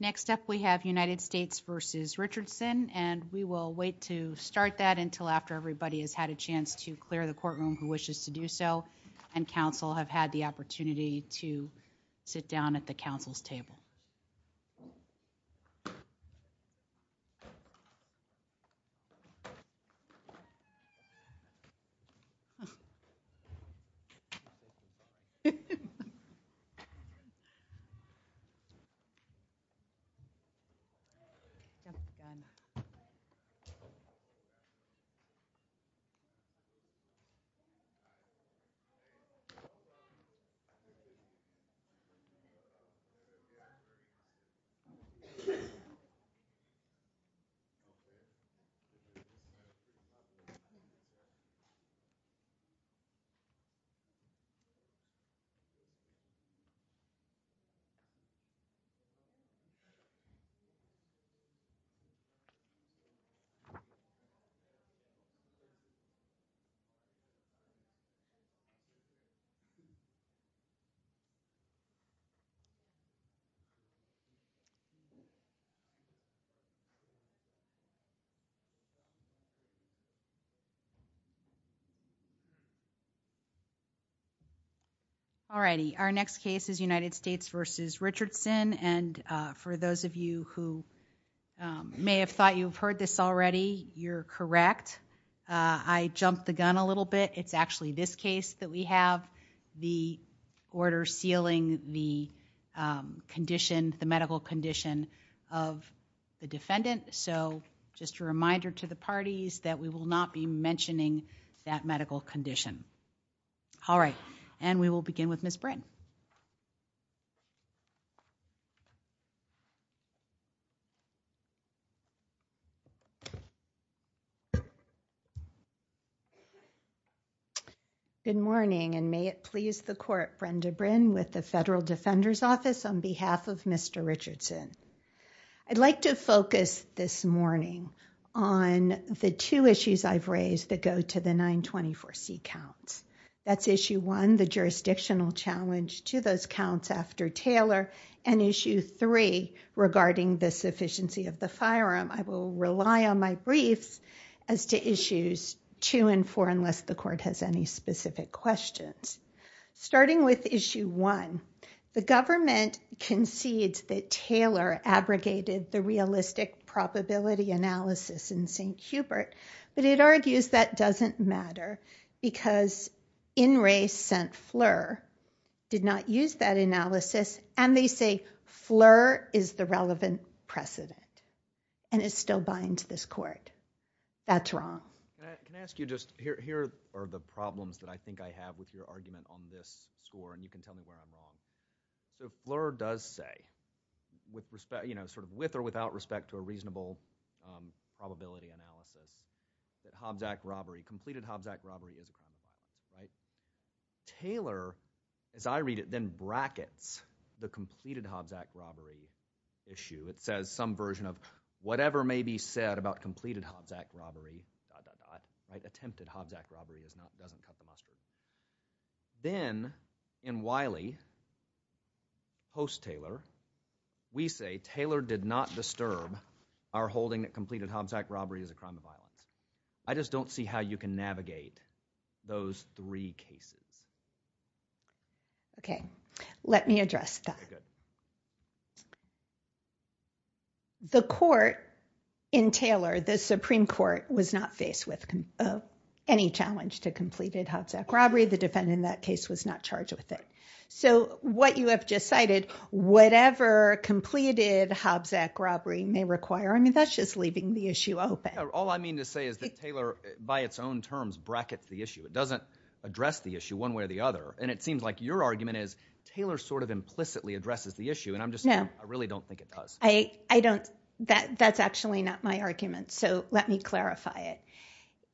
Next up, we have United States v. Richardson, and we will wait to start that until after everybody has had a chance to clear the courtroom who wishes to do so and counsel have had the opportunity to do so, and we will wait until after everybody has had a chance to do so. Our next case is United States v. Richardson, and for those of you who may have thought you've heard this already, you're correct. I jumped the gun a little bit. It's actually this case that we have the order sealing the condition, the medical condition of the defendant, so just a reminder to the parties that we will not be mentioning that All right, and we will begin with Ms. Brin. Brenda Brin Good morning, and may it please the Court, Brenda Brin with the Federal Defender's Office on behalf of Mr. Richardson. I'd like to focus this morning on the two issues I've raised that go to the 924C counts. That's Issue 1, the jurisdictional challenge to those counts after Taylor, and Issue 3, regarding the sufficiency of the firearm. I will rely on my briefs as to Issues 2 and 4 unless the Court has any specific questions. Starting with Issue 1, the government concedes that Taylor abrogated the realistic probability analysis in St. Hubert, but it argues that doesn't matter because Inres sent Fleur, did not use that analysis, and they say Fleur is the relevant precedent, and it still binds this Court. That's wrong. Can I ask you just, here are the problems that I think I have with your argument on this score, and you can tell me where I'm wrong. So Fleur does say, with respect, you know, sort of with or without respect to a reasonable probability analysis, that Hobsack robbery, completed Hobsack robbery is a crime. Right? Taylor, as I read it, then brackets the completed Hobsack robbery issue. It says some version of whatever may be said about completed Hobsack robbery, dot, dot, dot, attempted Hobsack robbery doesn't cut the mustard. Then, in Wiley, post-Taylor, we say Taylor did not disturb our holding that completed Hobsack robbery is a crime of violence. I just don't see how you can navigate those three cases. Okay. Let me address that. The Court, in Taylor, the Supreme Court, was not faced with any challenge to completed Hobsack robbery. The defendant in that case was not charged with it. So what you have just cited, whatever completed Hobsack robbery may require, I mean, that's just leaving the issue open. All I mean to say is that Taylor, by its own terms, brackets the issue. It doesn't address the issue one way or the other. And it seems like your argument is Taylor sort of implicitly addresses the issue. No. And I'm just saying I really don't think it does. I don't. That's actually not my argument. So let me clarify it.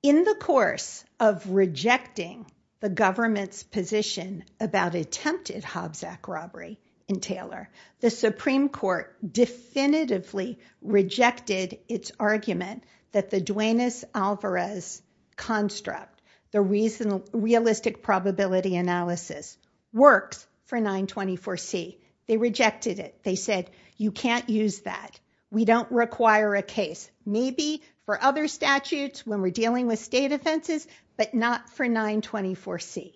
In the course of rejecting the government's position about attempted Hobsack robbery in Taylor, the Supreme Court definitively rejected its argument that the Duaneis Alvarez construct, the realistic probability analysis, works for 924C. They rejected it. They said, you can't use that. We don't require a case. Maybe for other statutes when we're dealing with state offenses, but not for 924C.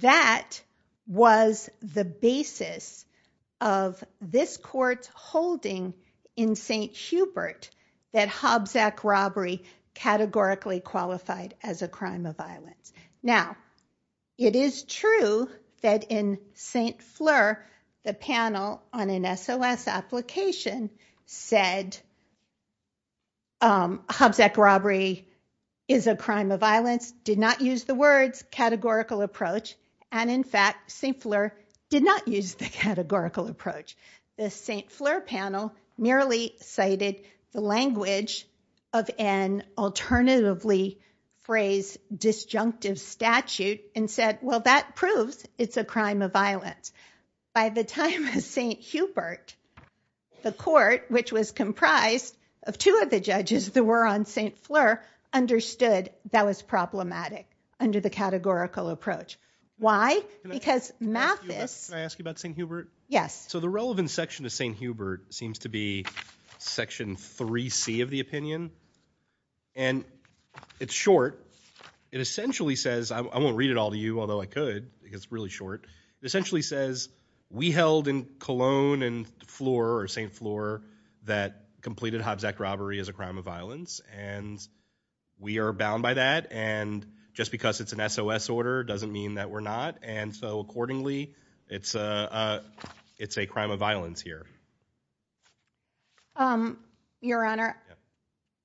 That was the basis of this Court's holding in St. Hubert that Hobsack robbery categorically qualified as a crime of violence. Now, it is true that in St. Fleur, the panel on an SOS application said Hobsack robbery is a crime of violence, did not use the words categorical approach, and in fact, St. Fleur did not use the categorical approach. The St. Fleur panel merely cited the language of an alternatively phrased disjunctive statute and said, well, that proves it's a crime of violence. By the time of St. Hubert, the Court, which was comprised of two of the judges that were on St. Fleur, understood that was problematic under the categorical approach. Why? Because Mathis— Can I ask you about St. Hubert? Yes. So the relevant section of St. Hubert seems to be section 3C of the opinion, and it's short. It essentially says—I won't read it all to you, although I could because it's really short—it essentially says we held in Cologne and St. Fleur that completed Hobsack robbery as a crime of violence, and we are bound by that, and just because it's an SOS order doesn't mean that we're not, and so accordingly, it's a crime of violence here. Your Honor,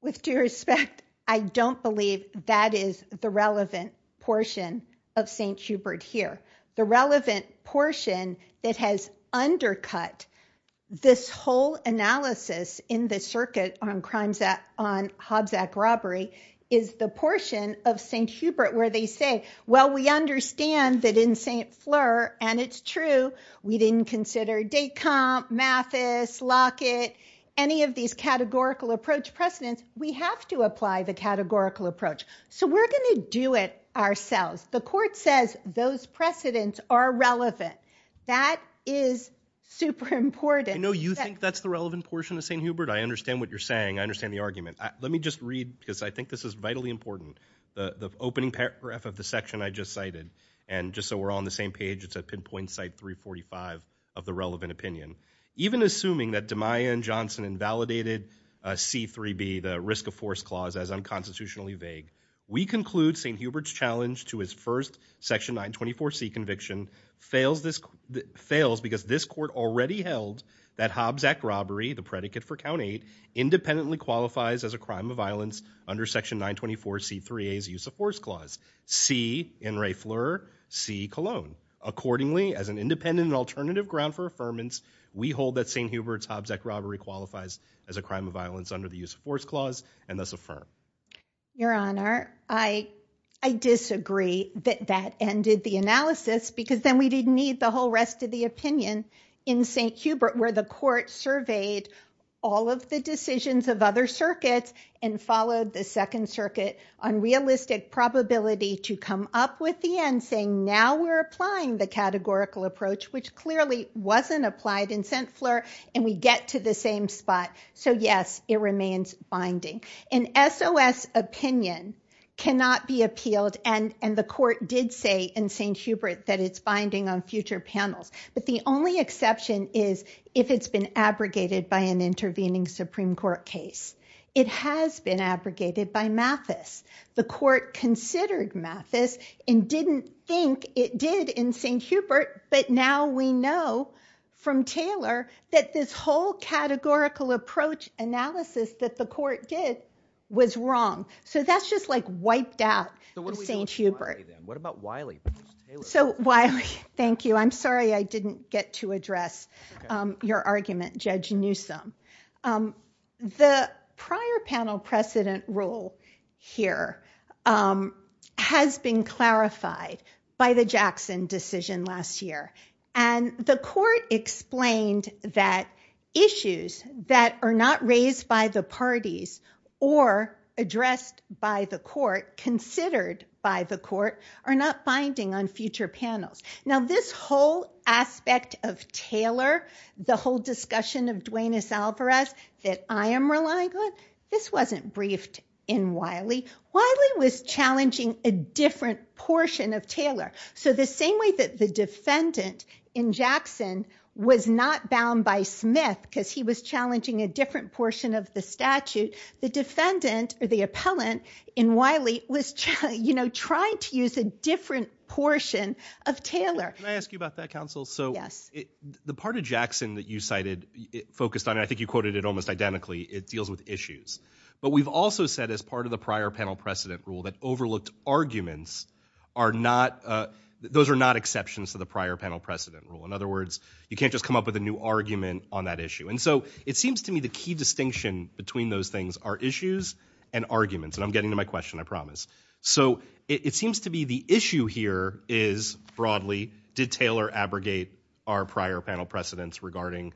with due respect, I don't believe that is the relevant portion of St. Hubert here. The relevant portion that has undercut this whole analysis in the circuit on Hobsack robbery is the portion of St. Hubert where they say, well, we understand that in St. Fleur, and it's true, we didn't consider Descamps, Mathis, Lockett, any of these categorical approach precedents. We have to apply the categorical approach, so we're going to do it ourselves. The court says those precedents are relevant. That is super important. I know you think that's the relevant portion of St. Hubert. I understand what you're saying. I understand the argument. Let me just read, because I think this is vitally important, the opening paragraph of the section I just cited, and just so we're all on the same page, it's at pinpoint site 345 of the relevant opinion. Even assuming that DeMaia and Johnson invalidated C-3B, the risk of force clause, as unconstitutionally vague, we conclude St. Hubert's challenge to his first section 924C conviction fails because this court already held that Hobsack robbery, the predicate for count eight, independently qualifies as a crime of violence under section 924C3A's use of force clause. C, In re Fleur, C, Cologne. Accordingly, as an independent and alternative ground for affirmance, we hold that St. Hubert's Hobsack robbery qualifies as a crime of violence under the use of force clause, and thus affirm. Your Honor, I disagree that that ended the analysis, because then we didn't need the whole rest of the opinion in St. Hubert where the court surveyed all of the decisions of other circuits and followed the second circuit on realistic probability to come up with the end, saying now we're applying the categorical approach, which clearly wasn't applied in St. Fleur, and we get to the same spot. So yes, it remains binding. An SOS opinion cannot be appealed, and the court did say in St. Hubert that it's binding on future panels. But the only exception is if it's been abrogated by an intervening Supreme Court case. It has been abrogated by Mathis. The court considered Mathis and didn't think it did in St. Hubert, but now we know from Taylor that this whole categorical approach analysis that the court did was wrong. So that's just, like, wiped out of St. Hubert. So, Wiley, thank you. I'm sorry I didn't get to address your argument, Judge Newsom. The prior panel precedent rule here has been clarified by the Jackson decision last year, and the court explained that issues that are not raised by the parties or addressed by the court, considered by the court, are not binding on future panels. Now, this whole aspect of Taylor, the whole discussion of Duenas-Alvarez that I am relying on, this wasn't briefed in Wiley. Wiley was challenging a different portion of Taylor. So the same way that the defendant in Jackson was not bound by Smith because he was challenging a different portion of the statute, the defendant or the appellant in Wiley was, you know, trying to use a different portion of Taylor. Can I ask you about that, counsel? Yes. So the part of Jackson that you cited focused on, I think you quoted it almost identically, it deals with issues. But we've also said as part of the prior panel precedent rule that overlooked arguments are not, those are not exceptions to the prior panel precedent rule. In other words, you can't just come up with a new argument on that issue. And so it seems to me the key distinction between those things are issues and arguments. And I'm getting to my question, I promise. So it seems to be the issue here is, broadly, did Taylor abrogate our prior panel precedents regarding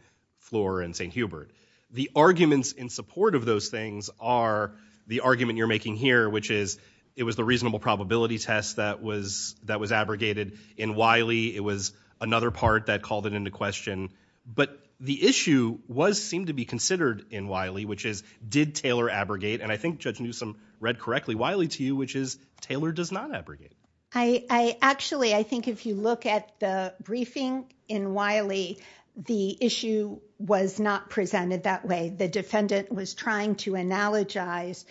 Flohr and St. Hubert? The arguments in support of those things are the argument you're making here, which is it was the reasonable probability test that was abrogated in Wiley. It was another part that called it into question. But the issue was, seemed to be considered in Wiley, which is, did Taylor abrogate? And I think Judge Newsom read correctly Wiley to you, which is Taylor does not abrogate. I actually, I think if you look at the briefing in Wiley, the issue was not presented that way. The defendant was trying to analogize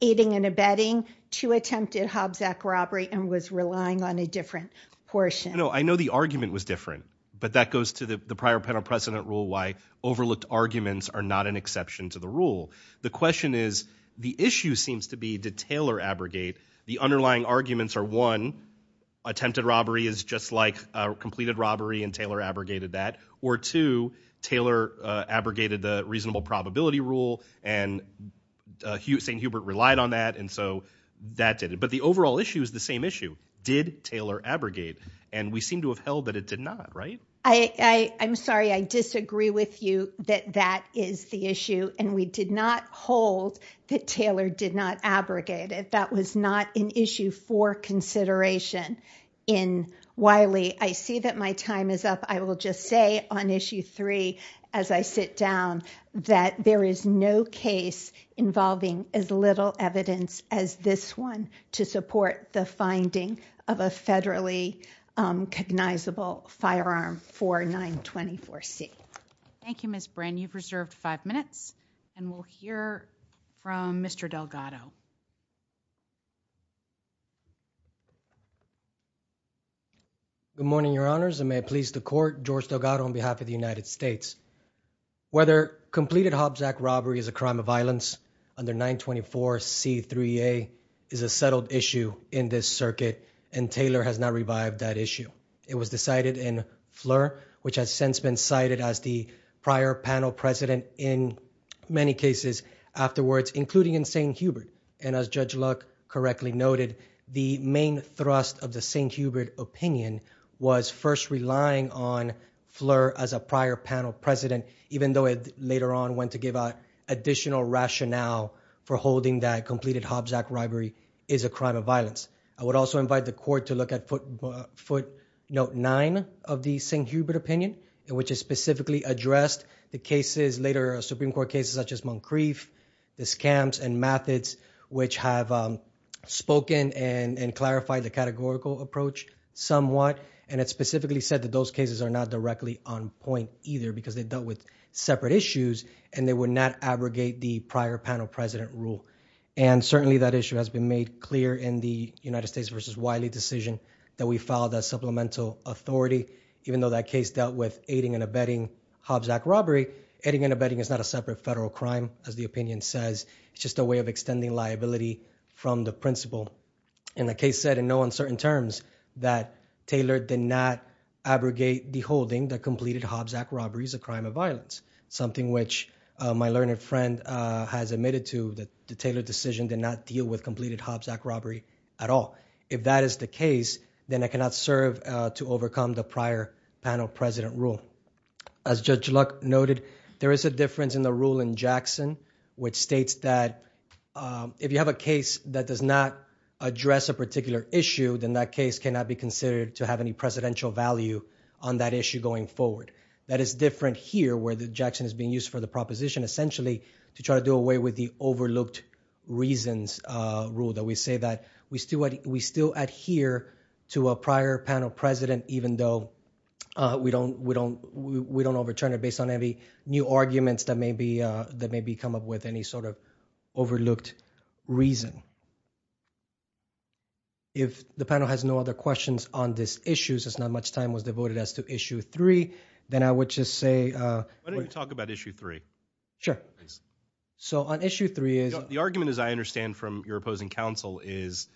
aiding and abetting to attempted Hobbs Act robbery and was relying on a different portion. I know the argument was different, but that goes to the prior panel precedent rule why overlooked arguments are not an exception to the rule. The question is, the issue seems to be, did Taylor abrogate? The underlying arguments are, one, attempted robbery is just like completed robbery and Taylor abrogated that. Or two, Taylor abrogated the reasonable probability rule and St. Hubert relied on that, and so that did it. But the overall issue is the same issue. Did Taylor abrogate? And we seem to have held that it did not, right? I'm sorry. I disagree with you that that is the issue, and we did not hold that Taylor did not abrogate. That was not an issue for consideration in Wiley. I see that my time is up. I will just say on issue three as I sit down that there is no case involving as little evidence as this one to support the finding of a federally cognizable firearm for 924C. Thank you, Ms. Brin. You've reserved five minutes, and we'll hear from Mr. Delgado. Good morning, Your Honors, and may it please the Court, George Delgado on behalf of the United States. Whether completed Hobbs Act robbery is a crime of violence under 924C3A is a settled issue in this circuit, and Taylor has not revived that issue. It was decided in Fleur, which has since been cited as the prior panel president in many cases afterwards, including in St. Hubert. And as Judge Luck correctly noted, the main thrust of the St. Hubert opinion was first relying on Fleur as a prior panel president, even though it later on went to give additional rationale for holding that completed Hobbs Act robbery is a crime of violence. I would also invite the Court to look at footnote nine of the St. Hubert opinion, which has specifically addressed the cases, later Supreme Court cases, such as Moncrief, the scams and methods, which have spoken and clarified the categorical approach. Somewhat. And it specifically said that those cases are not directly on point either because they dealt with separate issues and they would not abrogate the prior panel president rule. And certainly that issue has been made clear in the United States versus Wiley decision that we filed a supplemental authority, even though that case dealt with aiding and abetting Hobbs Act robbery. Aiding and abetting is not a separate federal crime, as the opinion says. It's just a way of extending liability from the principle. And the case said in no uncertain terms that Taylor did not abrogate the holding that completed Hobbs Act robbery is a crime of violence, something which my learned friend has admitted to, that the Taylor decision did not deal with completed Hobbs Act robbery at all. If that is the case, then I cannot serve to overcome the prior panel president rule. As Judge Luck noted, there is a difference in the rule in Jackson, which states that if you have a case that does not address a particular issue, then that case cannot be considered to have any presidential value on that issue going forward. That is different here where the Jackson is being used for the proposition essentially to try to do away with the overlooked reasons rule that we say that we still adhere to a prior panel president, even though we don't overturn it based on any new arguments that may be come up with any sort of overlooked reason. If the panel has no other questions on this issue, since not much time was devoted as to issue three, then I would just say – Why don't you talk about issue three? Sure. So on issue three is – The argument, as I understand from your opposing counsel, is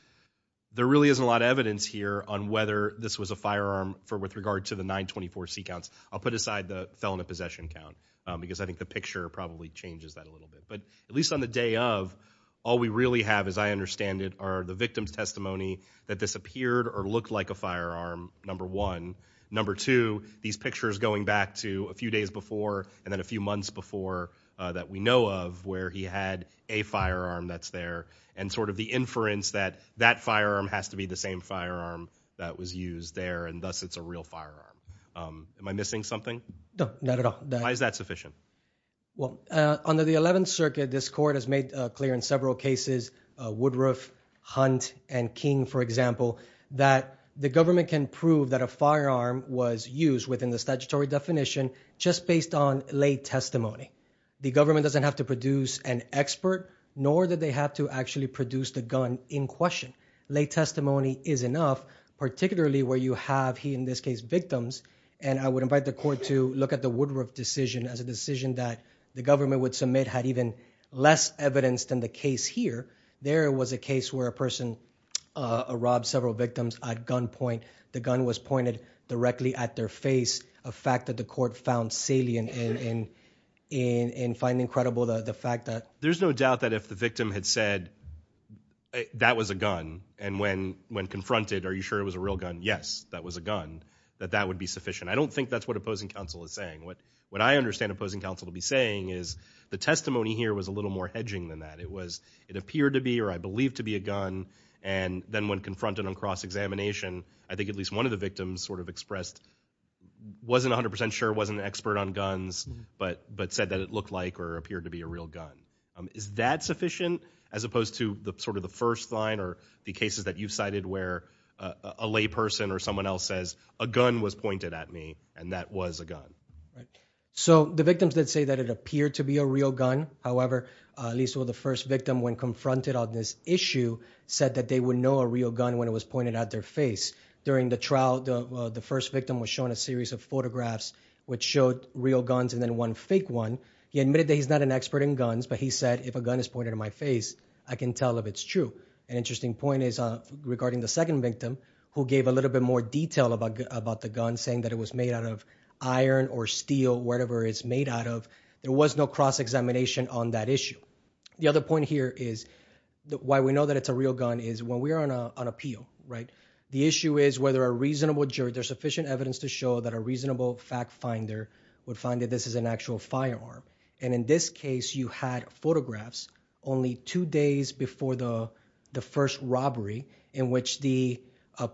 there really isn't a lot of evidence here on whether this was a firearm with regard to the 924C counts. I'll put aside the felon of possession count because I think the picture probably changes that a little bit. But at least on the day of, all we really have, as I understand it, are the victim's testimony that this appeared or looked like a firearm, number one. Number two, these pictures going back to a few days before and then a few months before that we know of where he had a firearm that's there and sort of the inference that that firearm has to be the same firearm that was used there, and thus it's a real firearm. Am I missing something? No, not at all. Why is that sufficient? Well, under the 11th Circuit, this court has made clear in several cases – Woodruff, Hunt, and King, for example – that the government can prove that a firearm was used within the statutory definition just based on lay testimony. The government doesn't have to produce an expert, nor do they have to actually produce the gun in question. Lay testimony is enough, particularly where you have, in this case, victims, and I would invite the court to look at the Woodruff decision as a decision that the government would submit had even less evidence than the case here. There was a case where a person robbed several victims at gunpoint. The gun was pointed directly at their face, a fact that the court found salient in finding credible the fact that— There's no doubt that if the victim had said, that was a gun, and when confronted, are you sure it was a real gun? Yes, that was a gun, that that would be sufficient. I don't think that's what opposing counsel is saying. What I understand opposing counsel to be saying is the testimony here was a little more hedging than that. It was, it appeared to be or I believe to be a gun, and then when confronted on cross-examination, I think at least one of the victims sort of expressed, wasn't 100% sure, wasn't an expert on guns, but said that it looked like or appeared to be a real gun. Is that sufficient as opposed to the sort of the first line or the cases that you've cited where a layperson or someone else says, a gun was pointed at me and that was a gun? So the victims did say that it appeared to be a real gun. However, at least the first victim, when confronted on this issue, said that they would know a real gun when it was pointed at their face. During the trial, the first victim was shown a series of photographs which showed real guns and then one fake one. So he admitted that he's not an expert in guns, but he said if a gun is pointed at my face, I can tell if it's true. An interesting point is regarding the second victim, who gave a little bit more detail about the gun, saying that it was made out of iron or steel, whatever it's made out of. There was no cross-examination on that issue. The other point here is why we know that it's a real gun is when we are on appeal, right, the issue is whether a reasonable jury, there's sufficient evidence to show that a reasonable fact finder would find that this is an actual firearm. And in this case, you had photographs only two days before the first robbery in which the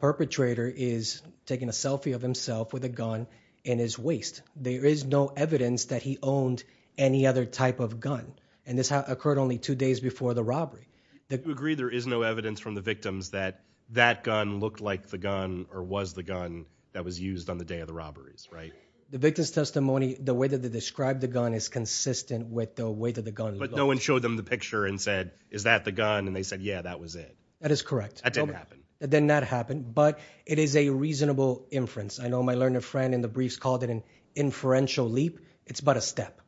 perpetrator is taking a selfie of himself with a gun in his waist. There is no evidence that he owned any other type of gun. And this occurred only two days before the robbery. Do you agree there is no evidence from the victims that that gun looked like the gun or was the gun that was used on the day of the robberies, right? The victim's testimony, the way that they described the gun is consistent with the weight of the gun. But no one showed them the picture and said, is that the gun, and they said, yeah, that was it. That is correct. That didn't happen. That did not happen. But it is a reasonable inference. I know my learned friend in the briefs called it an inferential leap. It's but a step.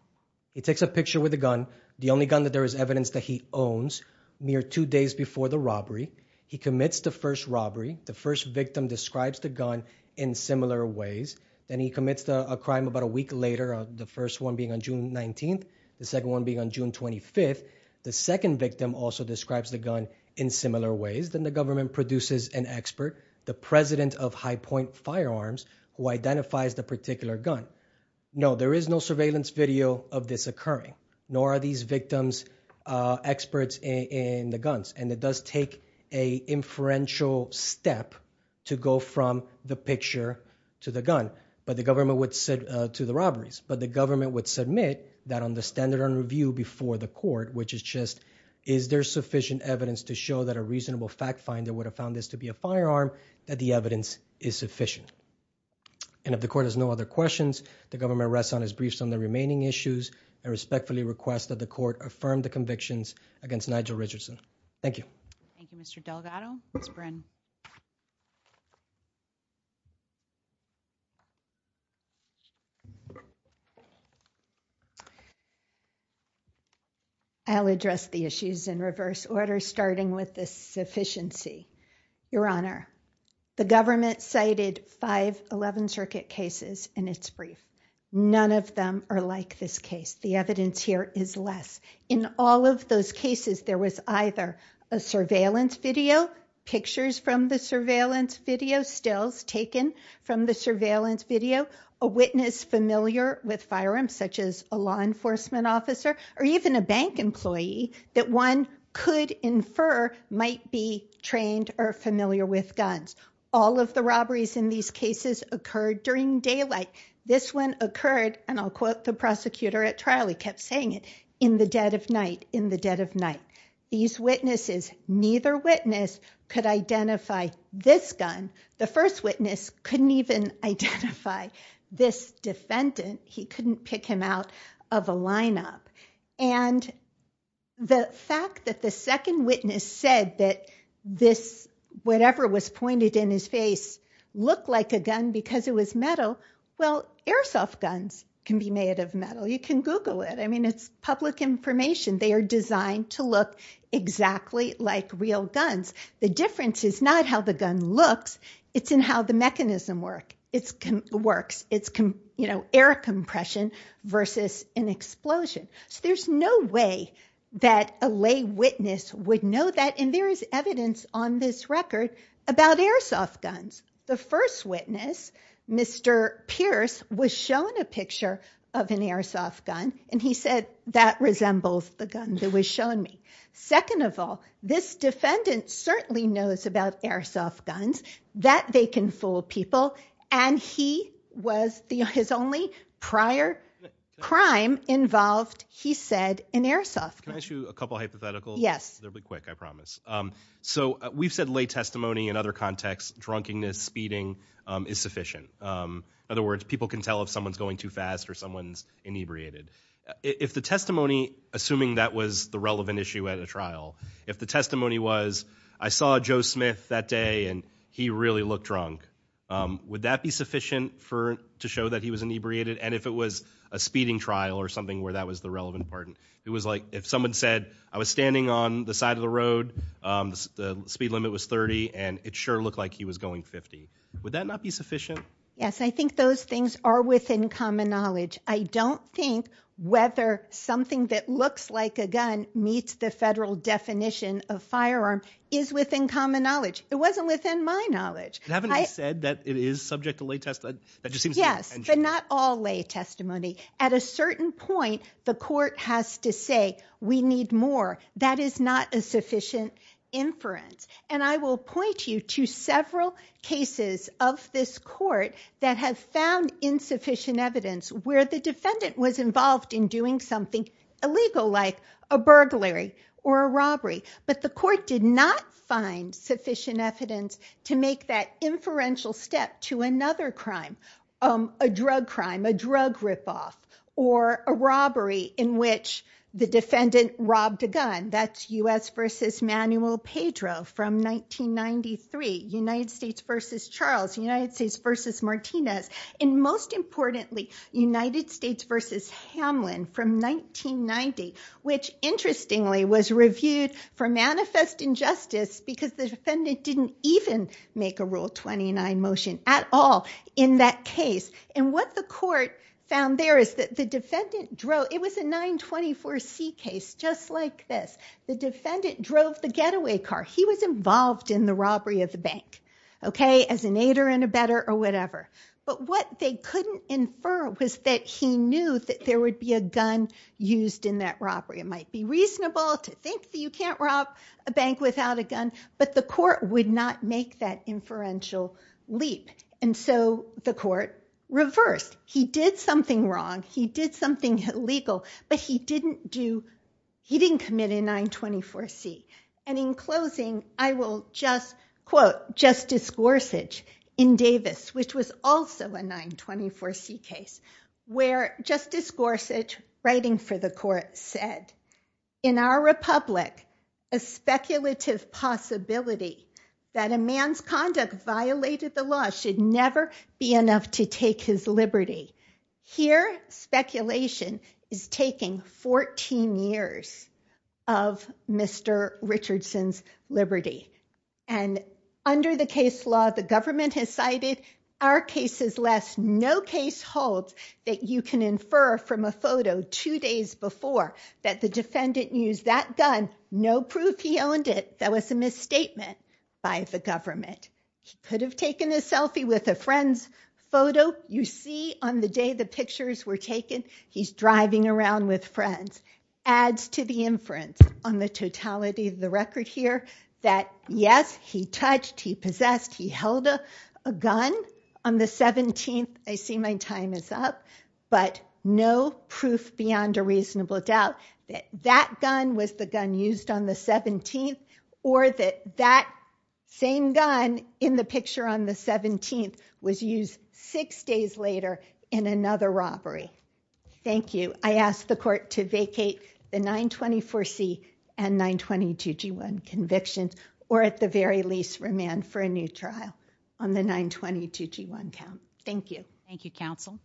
He takes a picture with a gun, the only gun that there is evidence that he owns, mere two days before the robbery. He commits the first robbery. The first victim describes the gun in similar ways. Then he commits a crime about a week later, the first one being on June 19th, the second one being on June 25th. The second victim also describes the gun in similar ways. Then the government produces an expert, the president of High Point Firearms, who identifies the particular gun. No, there is no surveillance video of this occurring, nor are these victims experts in the guns. And it does take an inferential step to go from the picture to the gun. But the government would submit to the robberies. But the government would submit that on the standard of review before the court, which is just, is there sufficient evidence to show that a reasonable fact finder would have found this to be a firearm, that the evidence is sufficient. And if the court has no other questions, the government rests on its briefs on the remaining issues and respectfully requests that the court affirm the convictions against Nigel Richardson. Thank you. Thank you, Mr. Delgado. Ms. Bryn. I'll address the issues in reverse order, starting with the sufficiency. Your Honor, the government cited five 11th Circuit cases in its brief. None of them are like this case. The evidence here is less. In all of those cases, there was either a surveillance video, pictures from the surveillance video, stills taken from the surveillance video, a witness familiar with firearms, such as a law enforcement officer, or even a bank employee that one could infer might be trained or familiar with guns. All of the robberies in these cases occurred during daylight. This one occurred, and I'll quote the prosecutor at trial, he kept saying it, in the dead of night, in the dead of night. These witnesses, neither witness could identify this gun. The first witness couldn't even identify this defendant. He couldn't pick him out of a lineup. And the fact that the second witness said that this, whatever was pointed in his face, looked like a gun because it was metal, well, airsoft guns can be made of metal. You can Google it. I mean, it's public information. They are designed to look exactly like real guns. The difference is not how the gun looks. It's in how the mechanism works. It's, you know, air compression versus an explosion. So there's no way that a lay witness would know that, and there is evidence on this record about airsoft guns. The first witness, Mr. Pierce, was shown a picture of an airsoft gun, and he said that resembles the gun that was shown me. Second of all, this defendant certainly knows about airsoft guns, that they can fool people, and he was the only prior crime involved, he said, in airsoft guns. Can I ask you a couple hypotheticals? Yes. They'll be quick, I promise. So we've said lay testimony in other contexts, drunkenness, speeding is sufficient. In other words, people can tell if someone's going too fast or someone's inebriated. If the testimony, assuming that was the relevant issue at a trial, if the testimony was, I saw Joe Smith that day, and he really looked drunk, would that be sufficient to show that he was inebriated? And if it was a speeding trial or something where that was the relevant part? It was like if someone said, I was standing on the side of the road, the speed limit was 30, and it sure looked like he was going 50. Would that not be sufficient? Yes, I think those things are within common knowledge. I don't think whether something that looks like a gun meets the federal definition of firearm is within common knowledge. It wasn't within my knowledge. Having said that, it is subject to lay testimony. Yes, but not all lay testimony. At a certain point, the court has to say, we need more. That is not a sufficient inference. And I will point you to several cases of this court that have found insufficient evidence where the defendant was involved in doing something illegal, like a burglary or a robbery. But the court did not find sufficient evidence to make that inferential step to another crime, a drug crime, a drug ripoff, or a robbery in which the defendant robbed a gun. That's U.S. v. Manuel Pedro from 1993, United States v. Charles, United States v. Martinez, and most importantly, United States v. Hamlin from 1990, which interestingly was reviewed for manifest injustice because the defendant didn't even make a Rule 29 motion at all in that case. And what the court found there is that the defendant drove, it was a 924C case, just like this. The defendant drove the getaway car. He was involved in the robbery of the bank, as an aider and abetter or whatever. But what they couldn't infer was that he knew that there would be a gun used in that robbery. It might be reasonable to think that you can't rob a bank without a gun, but the court would not make that inferential leap. And so the court reversed. He did something wrong, he did something illegal, but he didn't commit a 924C. And in closing, I will just quote Justice Gorsuch in Davis, which was also a 924C case, where Justice Gorsuch, writing for the court, said, in our republic, a speculative possibility that a man's conduct violated the law should never be enough to take his liberty. Here, speculation is taking 14 years of Mr. Richardson's liberty. And under the case law, the government has cited our cases less. No case holds that you can infer from a photo two days before that the defendant used that gun. No proof he owned it. That was a misstatement by the government. He could have taken a selfie with a friend's photo. You see on the day the pictures were taken, he's driving around with friends. Adds to the inference on the totality of the record here that, yes, he touched, he possessed, he held a gun on the 17th. I see my time is up. But no proof beyond a reasonable doubt that that gun was the gun used on the 17th or that that same gun in the picture on the 17th was used six days later in another robbery. Thank you. I ask the court to vacate the 924C and 922G1 convictions or at the very least remand for a new trial on the 922G1 count. Thank you. Thank you, counsel.